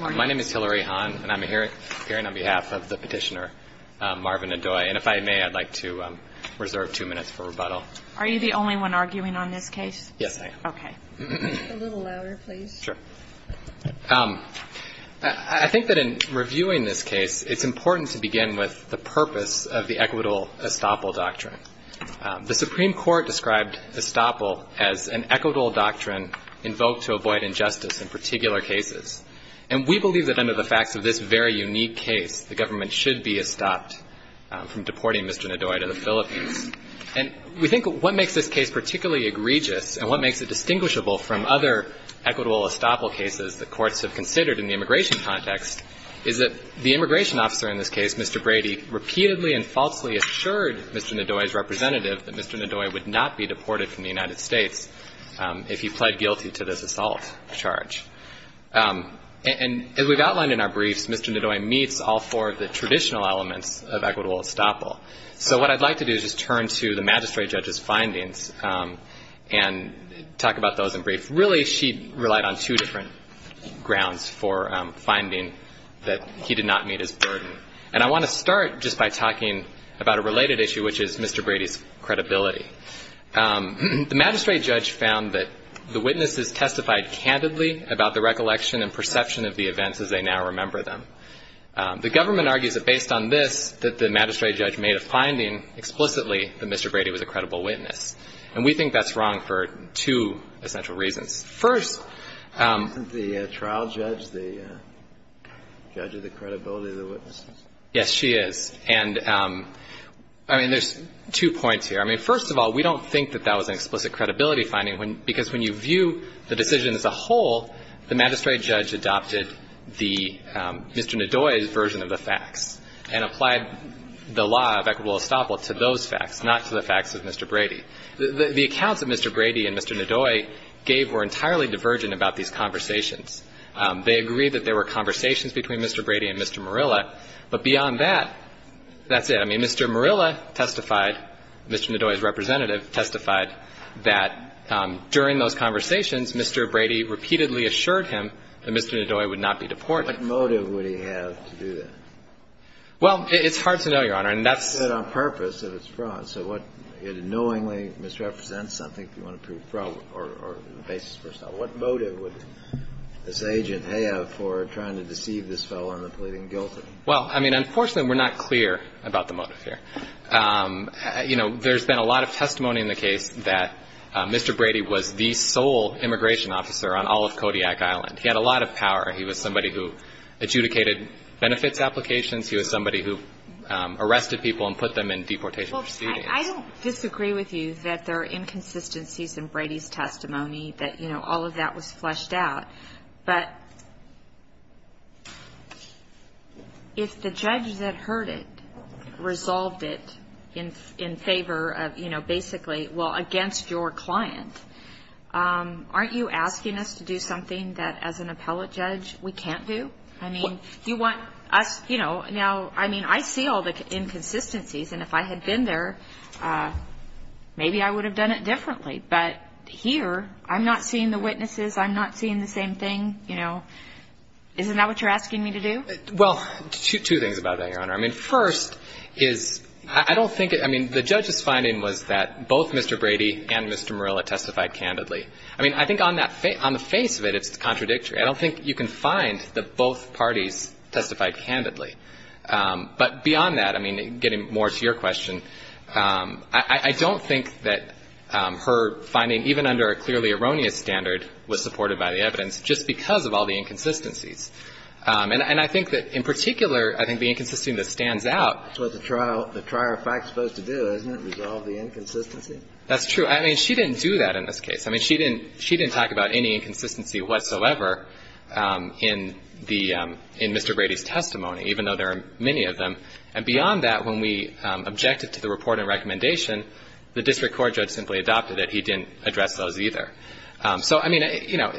My name is Hillary Hahn, and I'm appearing on behalf of the petitioner, Marvin Nidoy. And if I may, I'd like to reserve two minutes for rebuttal. Are you the only one arguing on this case? Yes, I am. Okay. A little louder, please. Sure. I think that in reviewing this case, it's important to begin with the purpose of the equitable estoppel doctrine. The Supreme Court described estoppel as an equitable doctrine invoked to avoid injustice in particular cases. And we believe that under the facts of this very unique case, the government should be estopped from deporting Mr. Nidoy to the Philippines. And we think what makes this case particularly egregious and what makes it distinguishable from other equitable estoppel cases that courts have considered in the immigration context is that the immigration officer in this case, Mr. Brady, repeatedly and falsely assured Mr. Nidoy's representative that Mr. Nidoy would not be deported from the United States if he pled guilty to this assault charge. And as we've outlined in our briefs, Mr. Nidoy meets all four of the traditional elements of equitable estoppel. So what I'd like to do is just turn to the magistrate judge's findings and talk about those in brief. Really, she relied on two different grounds for finding that he did not meet his burden. And I want to start just by talking about a related issue, which is Mr. Brady's credibility. The magistrate judge found that the witnesses testified candidly about the recollection and perception of the events as they now remember them. The government argues that based on this, that the magistrate judge made a finding explicitly that Mr. Brady was a credible witness. And we think that's wrong for two essential reasons. First — Isn't the trial judge the judge of the credibility of the witnesses? Yes, she is. And, I mean, there's two points here. I mean, first of all, we don't think that that was an explicit credibility finding, because when you view the decision as a whole, the magistrate judge adopted the — Mr. Nidoy's version of the facts and applied the law of equitable estoppel to those facts, not to the facts of Mr. Brady. The accounts that Mr. Brady and Mr. Nidoy gave were entirely divergent about these conversations. They agreed that there were conversations between Mr. Brady and Mr. Murilla, but beyond that, that's it. I mean, Mr. Murilla testified, Mr. Nidoy's representative testified, that during those conversations, Mr. Brady repeatedly assured him that Mr. Nidoy would not be deported. What motive would he have to do that? Well, it's hard to know, Your Honor, and that's — It knowingly misrepresents something if you want to prove a problem or the basis for a problem. What motive would this agent have for trying to deceive this fellow into pleading guilty? Well, I mean, unfortunately, we're not clear about the motive here. You know, there's been a lot of testimony in the case that Mr. Brady was the sole immigration officer on all of Kodiak Island. He had a lot of power. He was somebody who adjudicated benefits applications. He was somebody who arrested people and put them in deportation proceedings. I don't disagree with you that there are inconsistencies in Brady's testimony, that, you know, all of that was fleshed out. But if the judge that heard it resolved it in favor of, you know, basically, well, against your client, aren't you asking us to do something that, as an appellate judge, we can't do? I mean, you want us — you know, now, I mean, I see all the inconsistencies. And if I had been there, maybe I would have done it differently. But here, I'm not seeing the witnesses. I'm not seeing the same thing. You know, isn't that what you're asking me to do? Well, two things about that, Your Honor. I mean, first is, I don't think it — I mean, the judge's finding was that both Mr. Brady and Mr. Murilla testified candidly. I mean, I think on that — on the face of it, it's contradictory. I don't think you can find that both parties testified candidly. But beyond that, I mean, getting more to your question, I don't think that her finding, even under a clearly erroneous standard, was supported by the evidence, just because of all the inconsistencies. And I think that, in particular, I think the inconsistency that stands out — That's what the trial — the trier of facts is supposed to do, isn't it, resolve the inconsistency? That's true. I mean, she didn't do that in this case. I mean, she didn't — she didn't talk about any inconsistency whatsoever in the — in Mr. Brady's testimony, even though there are many of them. And beyond that, when we objected to the report and recommendation, the district court judge simply adopted it. He didn't address those either. So, I mean, you know,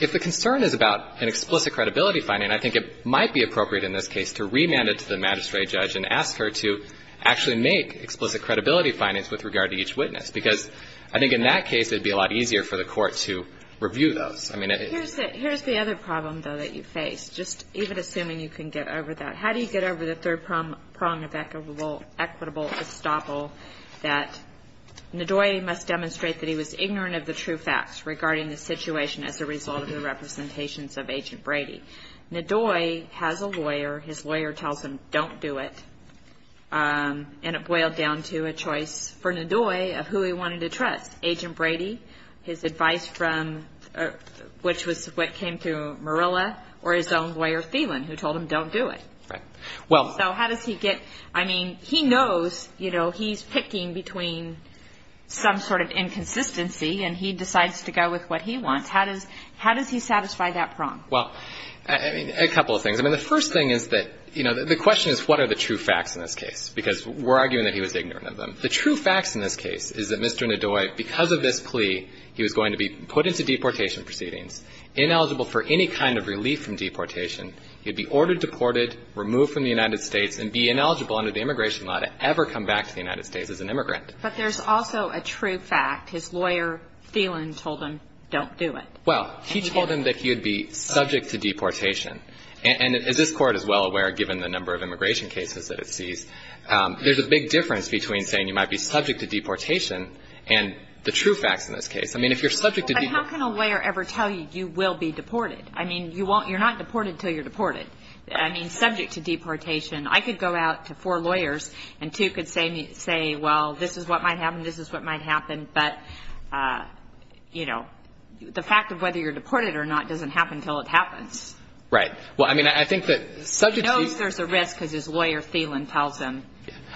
if the concern is about an explicit credibility finding, I think it might be appropriate in this case to remand it to the magistrate judge and ask her to actually make explicit credibility findings with regard to each witness, because I think in that case it would be a lot easier for the court to review those. I mean, it — Here's the other problem, though, that you face, just even assuming you can get over that. How do you get over the third prong of equitable estoppel, that Ndoye must demonstrate that he was ignorant of the true facts regarding the situation as a result of the representations of Agent Brady? Ndoye has a lawyer. His lawyer tells him, don't do it. And it boiled down to a choice for Ndoye of who he wanted to trust, Agent Brady, his advice from — which was what came through Murilla, or his own lawyer, Thielen, who told him, don't do it. Right. Well — So how does he get — I mean, he knows, you know, he's picking between some sort of inconsistency, and he decides to go with what he wants. How does he satisfy that prong? Well, I mean, a couple of things. I mean, the first thing is that — you know, the question is, what are the true facts in this case? Because we're arguing that he was ignorant of them. The true facts in this case is that Mr. Ndoye, because of this plea, he was going to be put into deportation proceedings, ineligible for any kind of relief from deportation. He would be ordered deported, removed from the United States, and be ineligible under the immigration law to ever come back to the United States as an immigrant. But there's also a true fact. His lawyer, Thielen, told him, don't do it. Well, he told him that he would be subject to deportation. And this Court is well aware, given the number of immigration cases that it sees, there's a big difference between saying you might be subject to deportation and the true facts in this case. I mean, if you're subject to — But how can a lawyer ever tell you you will be deported? I mean, you won't — you're not deported until you're deported. I mean, subject to deportation. I could go out to four lawyers, and two could say, well, this is what might happen, this is what might happen. But, you know, the fact of whether you're deported or not doesn't happen until it happens. Right. Well, I mean, I think that subject to — He knows there's a risk because his lawyer, Thielen, tells him.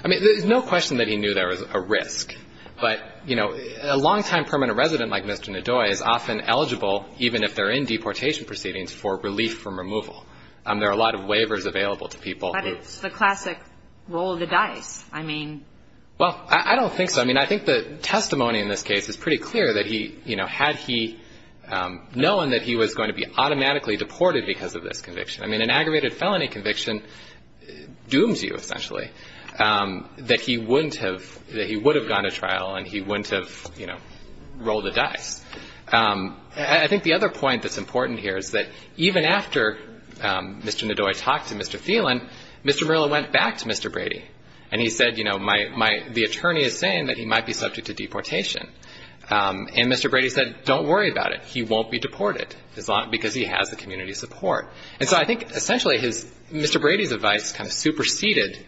I mean, there's no question that he knew there was a risk. But, you know, a longtime permanent resident like Mr. Ndoye is often eligible, even if they're in deportation proceedings, for relief from removal. There are a lot of waivers available to people who — But it's the classic roll of the dice. I mean — Well, I don't think so. I mean, I think the testimony in this case is pretty clear that he — you know, had he known that he was going to be automatically deported because of this conviction. I mean, an aggravated felony conviction dooms you, essentially. That he wouldn't have — that he would have gone to trial, and he wouldn't have, you know, rolled the dice. I think the other point that's important here is that even after Mr. Ndoye talked to Mr. Thielen, Mr. Murillo went back to Mr. Brady. And he said, you know, my — the attorney is saying that he might be subject to deportation. And Mr. Brady said, don't worry about it. He won't be deported because he has the community support. And so I think, essentially, his — Mr. Brady's advice kind of superseded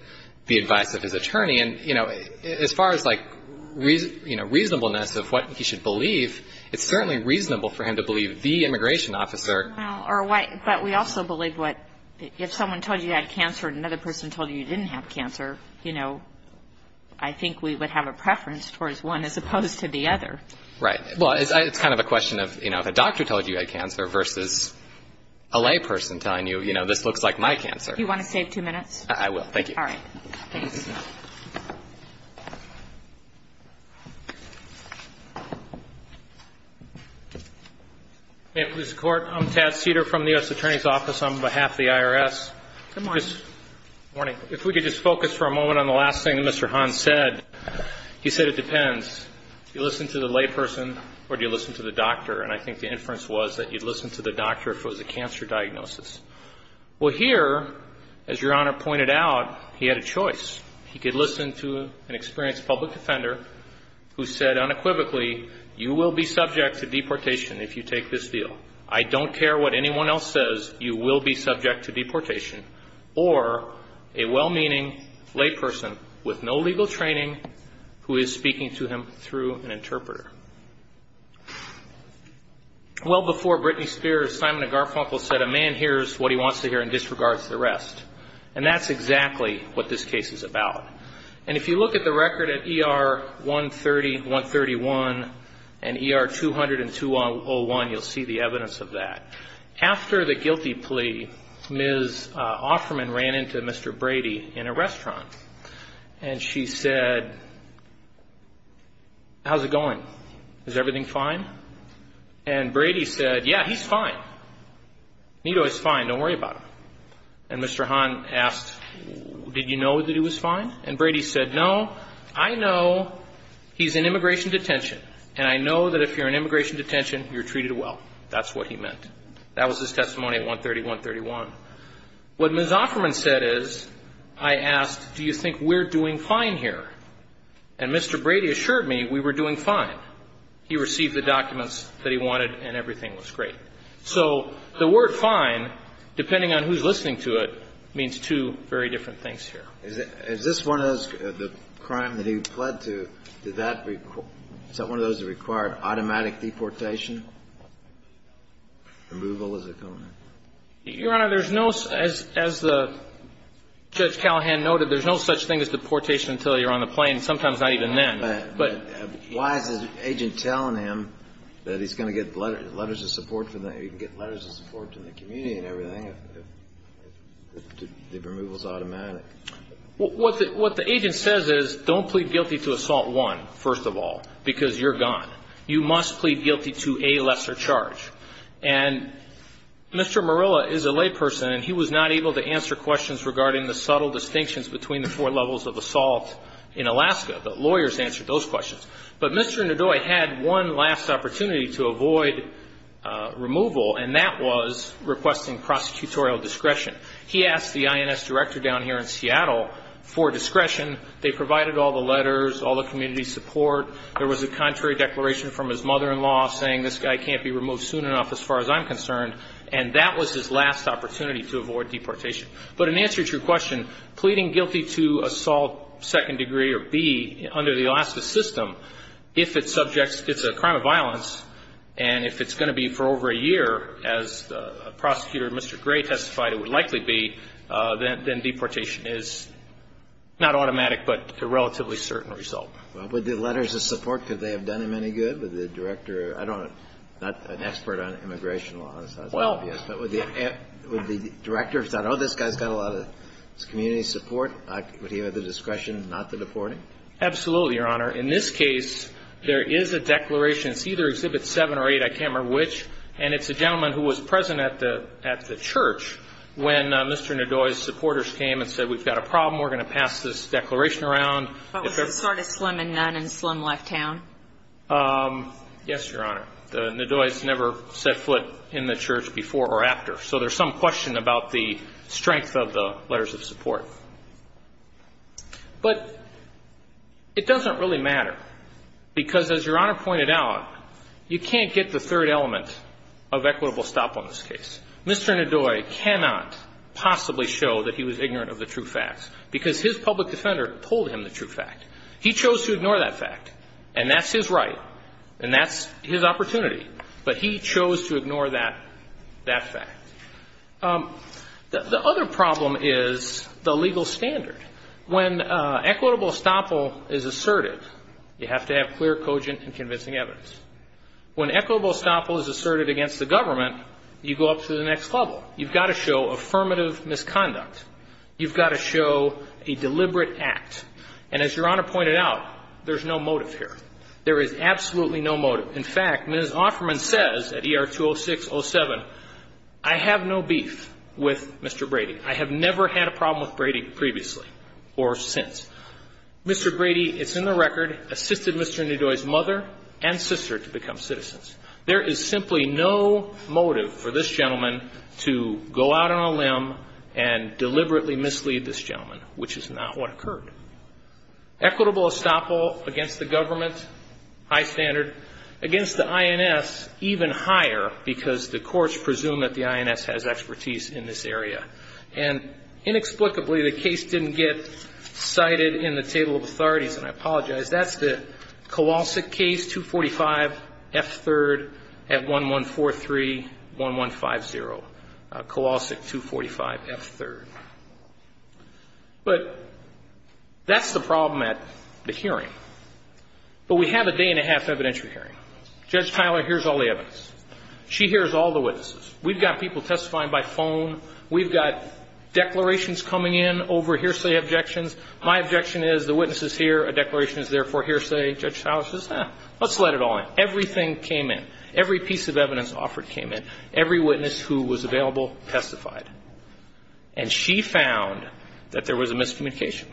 the advice of his attorney. And, you know, as far as, like, you know, reasonableness of what he should believe, it's certainly reasonable for him to believe the immigration officer. Well, or why — but we also believe what — if someone told you you had cancer and another person told you you didn't have cancer, you know, I think we would have a preference towards one as opposed to the other. Right. Well, it's kind of a question of, you know, if a doctor told you you had cancer versus a layperson telling you, you know, this looks like my cancer. Do you want to save two minutes? I will. Thank you. All right. Ma'am, please. I'm Tad Seder from the U.S. Attorney's Office on behalf of the IRS. Good morning. Good morning. If we could just focus for a moment on the last thing that Mr. Hahn said. He said it depends. Do you listen to the layperson or do you listen to the doctor? And I think the inference was that you'd listen to the doctor if it was a cancer diagnosis. Well, here, as Your Honor pointed out, he had a choice. He could listen to an experienced public defender who said unequivocally, you will be subject to deportation if you take this deal. I don't care what anyone else says. You will be subject to deportation or a well-meaning layperson with no legal training who is speaking to him through an interpreter. Well before Britney Spears, Simon Garfunkel said, a man hears what he wants to hear and disregards the rest. And that's exactly what this case is about. And if you look at the record at ER 130-131 and ER 200-201, you'll see the evidence of that. After the guilty plea, Ms. Offerman ran into Mr. Brady in a restaurant, and she said, how's it going? Is everything fine? And Brady said, yeah, he's fine. Nito is fine. Don't worry about him. And Mr. Hahn asked, did you know that he was fine? And Brady said, no, I know he's in immigration detention, and I know that if you're in immigration detention, you're treated well. That's what he meant. That was his testimony at 130-131. What Ms. Offerman said is, I asked, do you think we're doing fine here? And Mr. Brady assured me we were doing fine. He received the documents that he wanted, and everything was great. So the word fine, depending on who's listening to it, means two very different things here. Is this one of those, the crime that he pled to, is that one of those that required automatic deportation? Removal, is it? Your Honor, there's no, as Judge Callahan noted, there's no such thing as deportation until you're on the plane, sometimes not even then. Why is the agent telling him that he's going to get letters of support from the community and everything if the removal is automatic? What the agent says is, don't plead guilty to Assault 1, first of all, because you're gone. You must plead guilty to a lesser charge. And Mr. Murilla is a layperson, and he was not able to answer questions regarding the subtle distinctions between the four levels of assault in Alaska. The lawyers answered those questions. But Mr. Ndoye had one last opportunity to avoid removal, and that was requesting prosecutorial discretion. He asked the INS director down here in Seattle for discretion. They provided all the letters, all the community support. There was a contrary declaration from his mother-in-law saying this guy can't be removed soon enough as far as I'm concerned, and that was his last opportunity to avoid deportation. But in answer to your question, pleading guilty to Assault 2nd Degree or B under the Alaska system, if it's a crime of violence and if it's going to be for over a year, as the prosecutor, Mr. Gray, testified it would likely be, then deportation is not automatic but a relatively certain result. Well, would the letters of support, could they have done him any good? Would the director, I don't know, I'm not an expert on immigration law, so that's obvious. But would the director have thought, oh, this guy's got a lot of community support, would he have the discretion not to deport him? Absolutely, Your Honor. In this case, there is a declaration. It's either Exhibit 7 or 8, I can't remember which, and it's a gentleman who was present at the church when Mr. Ndoye's supporters came and said, we've got a problem, we're going to pass this declaration around. But was it sort of slim and none and slim left town? Yes, Your Honor. Ndoye's never set foot in the church before or after, But it doesn't really matter, because as Your Honor pointed out, you can't get the third element of equitable stop on this case. Mr. Ndoye cannot possibly show that he was ignorant of the true facts, because his public defender told him the true fact. He chose to ignore that fact, and that's his right, and that's his opportunity. But he chose to ignore that fact. The other problem is the legal standard. When equitable estoppel is asserted, you have to have clear, cogent, and convincing evidence. When equitable estoppel is asserted against the government, you go up to the next level. You've got to show affirmative misconduct. You've got to show a deliberate act. And as Your Honor pointed out, there's no motive here. There is absolutely no motive. In fact, Ms. Offerman says at ER-206-07, I have no beef with Mr. Brady. I have never had a problem with Brady previously or since. Mr. Brady, it's in the record, assisted Mr. Ndoye's mother and sister to become citizens. There is simply no motive for this gentleman to go out on a limb and deliberately mislead this gentleman, which is not what occurred. Equitable estoppel against the government, high standard. Against the INS, even higher, because the courts presume that the INS has expertise in this area. And inexplicably, the case didn't get cited in the table of authorities, and I apologize. That's the Kowalski case, 245 F3rd at 1143-1150, Kowalski 245 F3rd. But that's the problem at the hearing. But we have a day-and-a-half evidentiary hearing. Judge Tyler hears all the evidence. She hears all the witnesses. We've got people testifying by phone. We've got declarations coming in over hearsay objections. My objection is the witness is here, a declaration is there for hearsay. Judge Tyler says, eh, let's let it all in. Everything came in. Every piece of evidence offered came in. Every witness who was available testified. And she found that there was a miscommunication.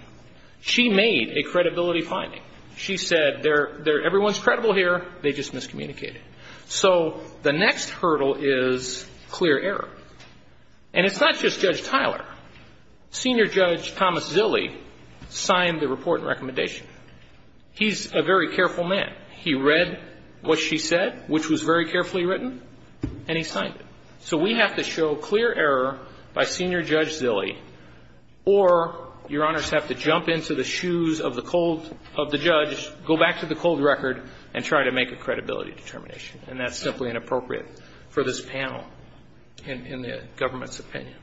She made a credibility finding. She said, everyone's credible here, they just miscommunicated. So the next hurdle is clear error. And it's not just Judge Tyler. Senior Judge Thomas Zille signed the report and recommendation. He's a very careful man. He read what she said, which was very carefully written, and he signed it. So we have to show clear error by Senior Judge Zille, or Your Honors have to jump into the shoes of the cold of the judge, go back to the cold record, and try to make a credibility determination. And that's simply inappropriate for this panel in the government's opinion.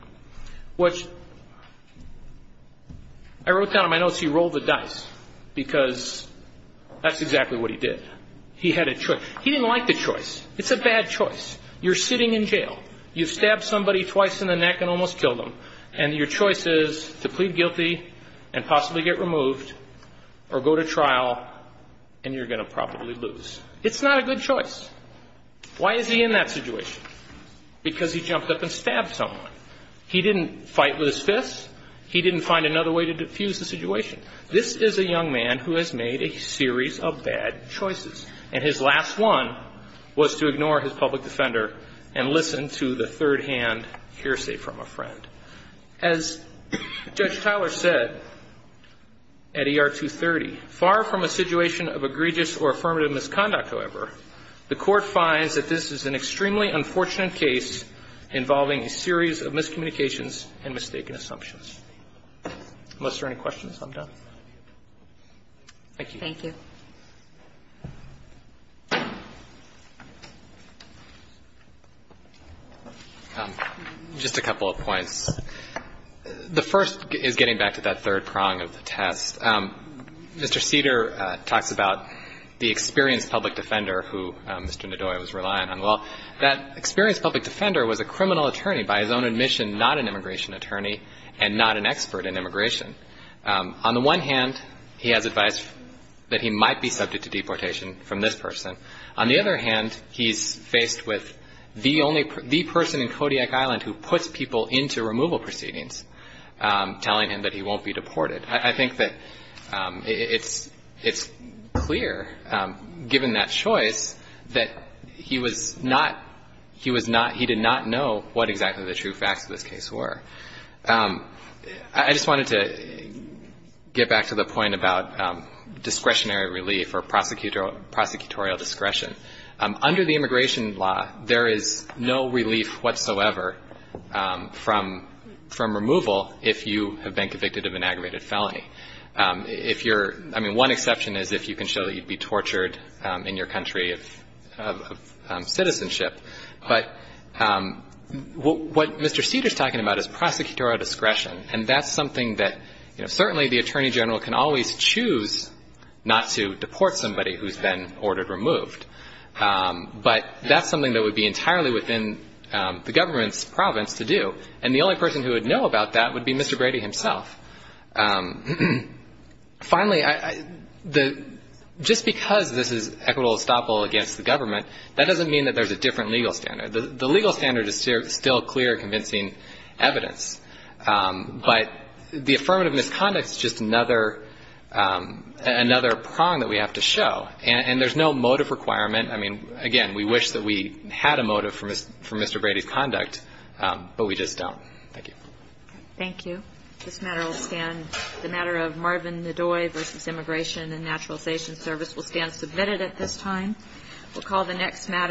I wrote down in my notes he rolled the dice because that's exactly what he did. He had a choice. He didn't like the choice. It's a bad choice. You're sitting in jail. You've stabbed somebody twice in the neck and almost killed them. And your choice is to plead guilty and possibly get removed or go to trial, and you're going to probably lose. It's not a good choice. Why is he in that situation? Because he jumped up and stabbed someone. He didn't fight with his fists. He didn't find another way to defuse the situation. This is a young man who has made a series of bad choices. And his last one was to ignore his public defender and listen to the third-hand hearsay from a friend. As Judge Tyler said at ER 230, far from a situation of egregious or affirmative misconduct, however, the Court finds that this is an extremely unfortunate case involving a series of miscommunications and mistaken assumptions. Unless there are any questions, I'm done. Thank you. Thank you. Just a couple of points. The first is getting back to that third prong of the test. Mr. Cedar talks about the experienced public defender who Mr. Ndoye was relying on. Well, that experienced public defender was a criminal attorney by his own admission, not an immigration attorney and not an expert in immigration. On the one hand, he has advice that he might be subject to deportation from this person. On the other hand, he's faced with the person in Kodiak Island who puts people into removal proceedings, telling him that he won't be deported. I think that it's clear, given that choice, that he was not he was not he did not know what exactly the true facts of this case were. I just wanted to get back to the point about discretionary relief or prosecutorial discretion. Under the immigration law, there is no relief whatsoever from removal if you have been convicted of an aggravated felony. If you're one exception is if you can show that you'd be tortured in your country of citizenship. But what Mr. Cedar is talking about is prosecutorial discretion. And that's something that, you know, certainly the attorney general can always choose not to deport somebody who's been ordered removed. But that's something that would be entirely within the government's province to do. And the only person who would know about that would be Mr. Brady himself. Finally, just because this is equitable estoppel against the government, that doesn't mean that there's a different legal standard. The legal standard is still clear, convincing evidence. But the affirmative misconduct is just another prong that we have to show. And there's no motive requirement. I mean, again, we wish that we had a motive for Mr. Brady's conduct, but we just don't. Thank you. Thank you. This matter will stand. The matter of Marvin Ndoi v. Immigration and Naturalization Service will stand submitted at this time. We'll call the next matter.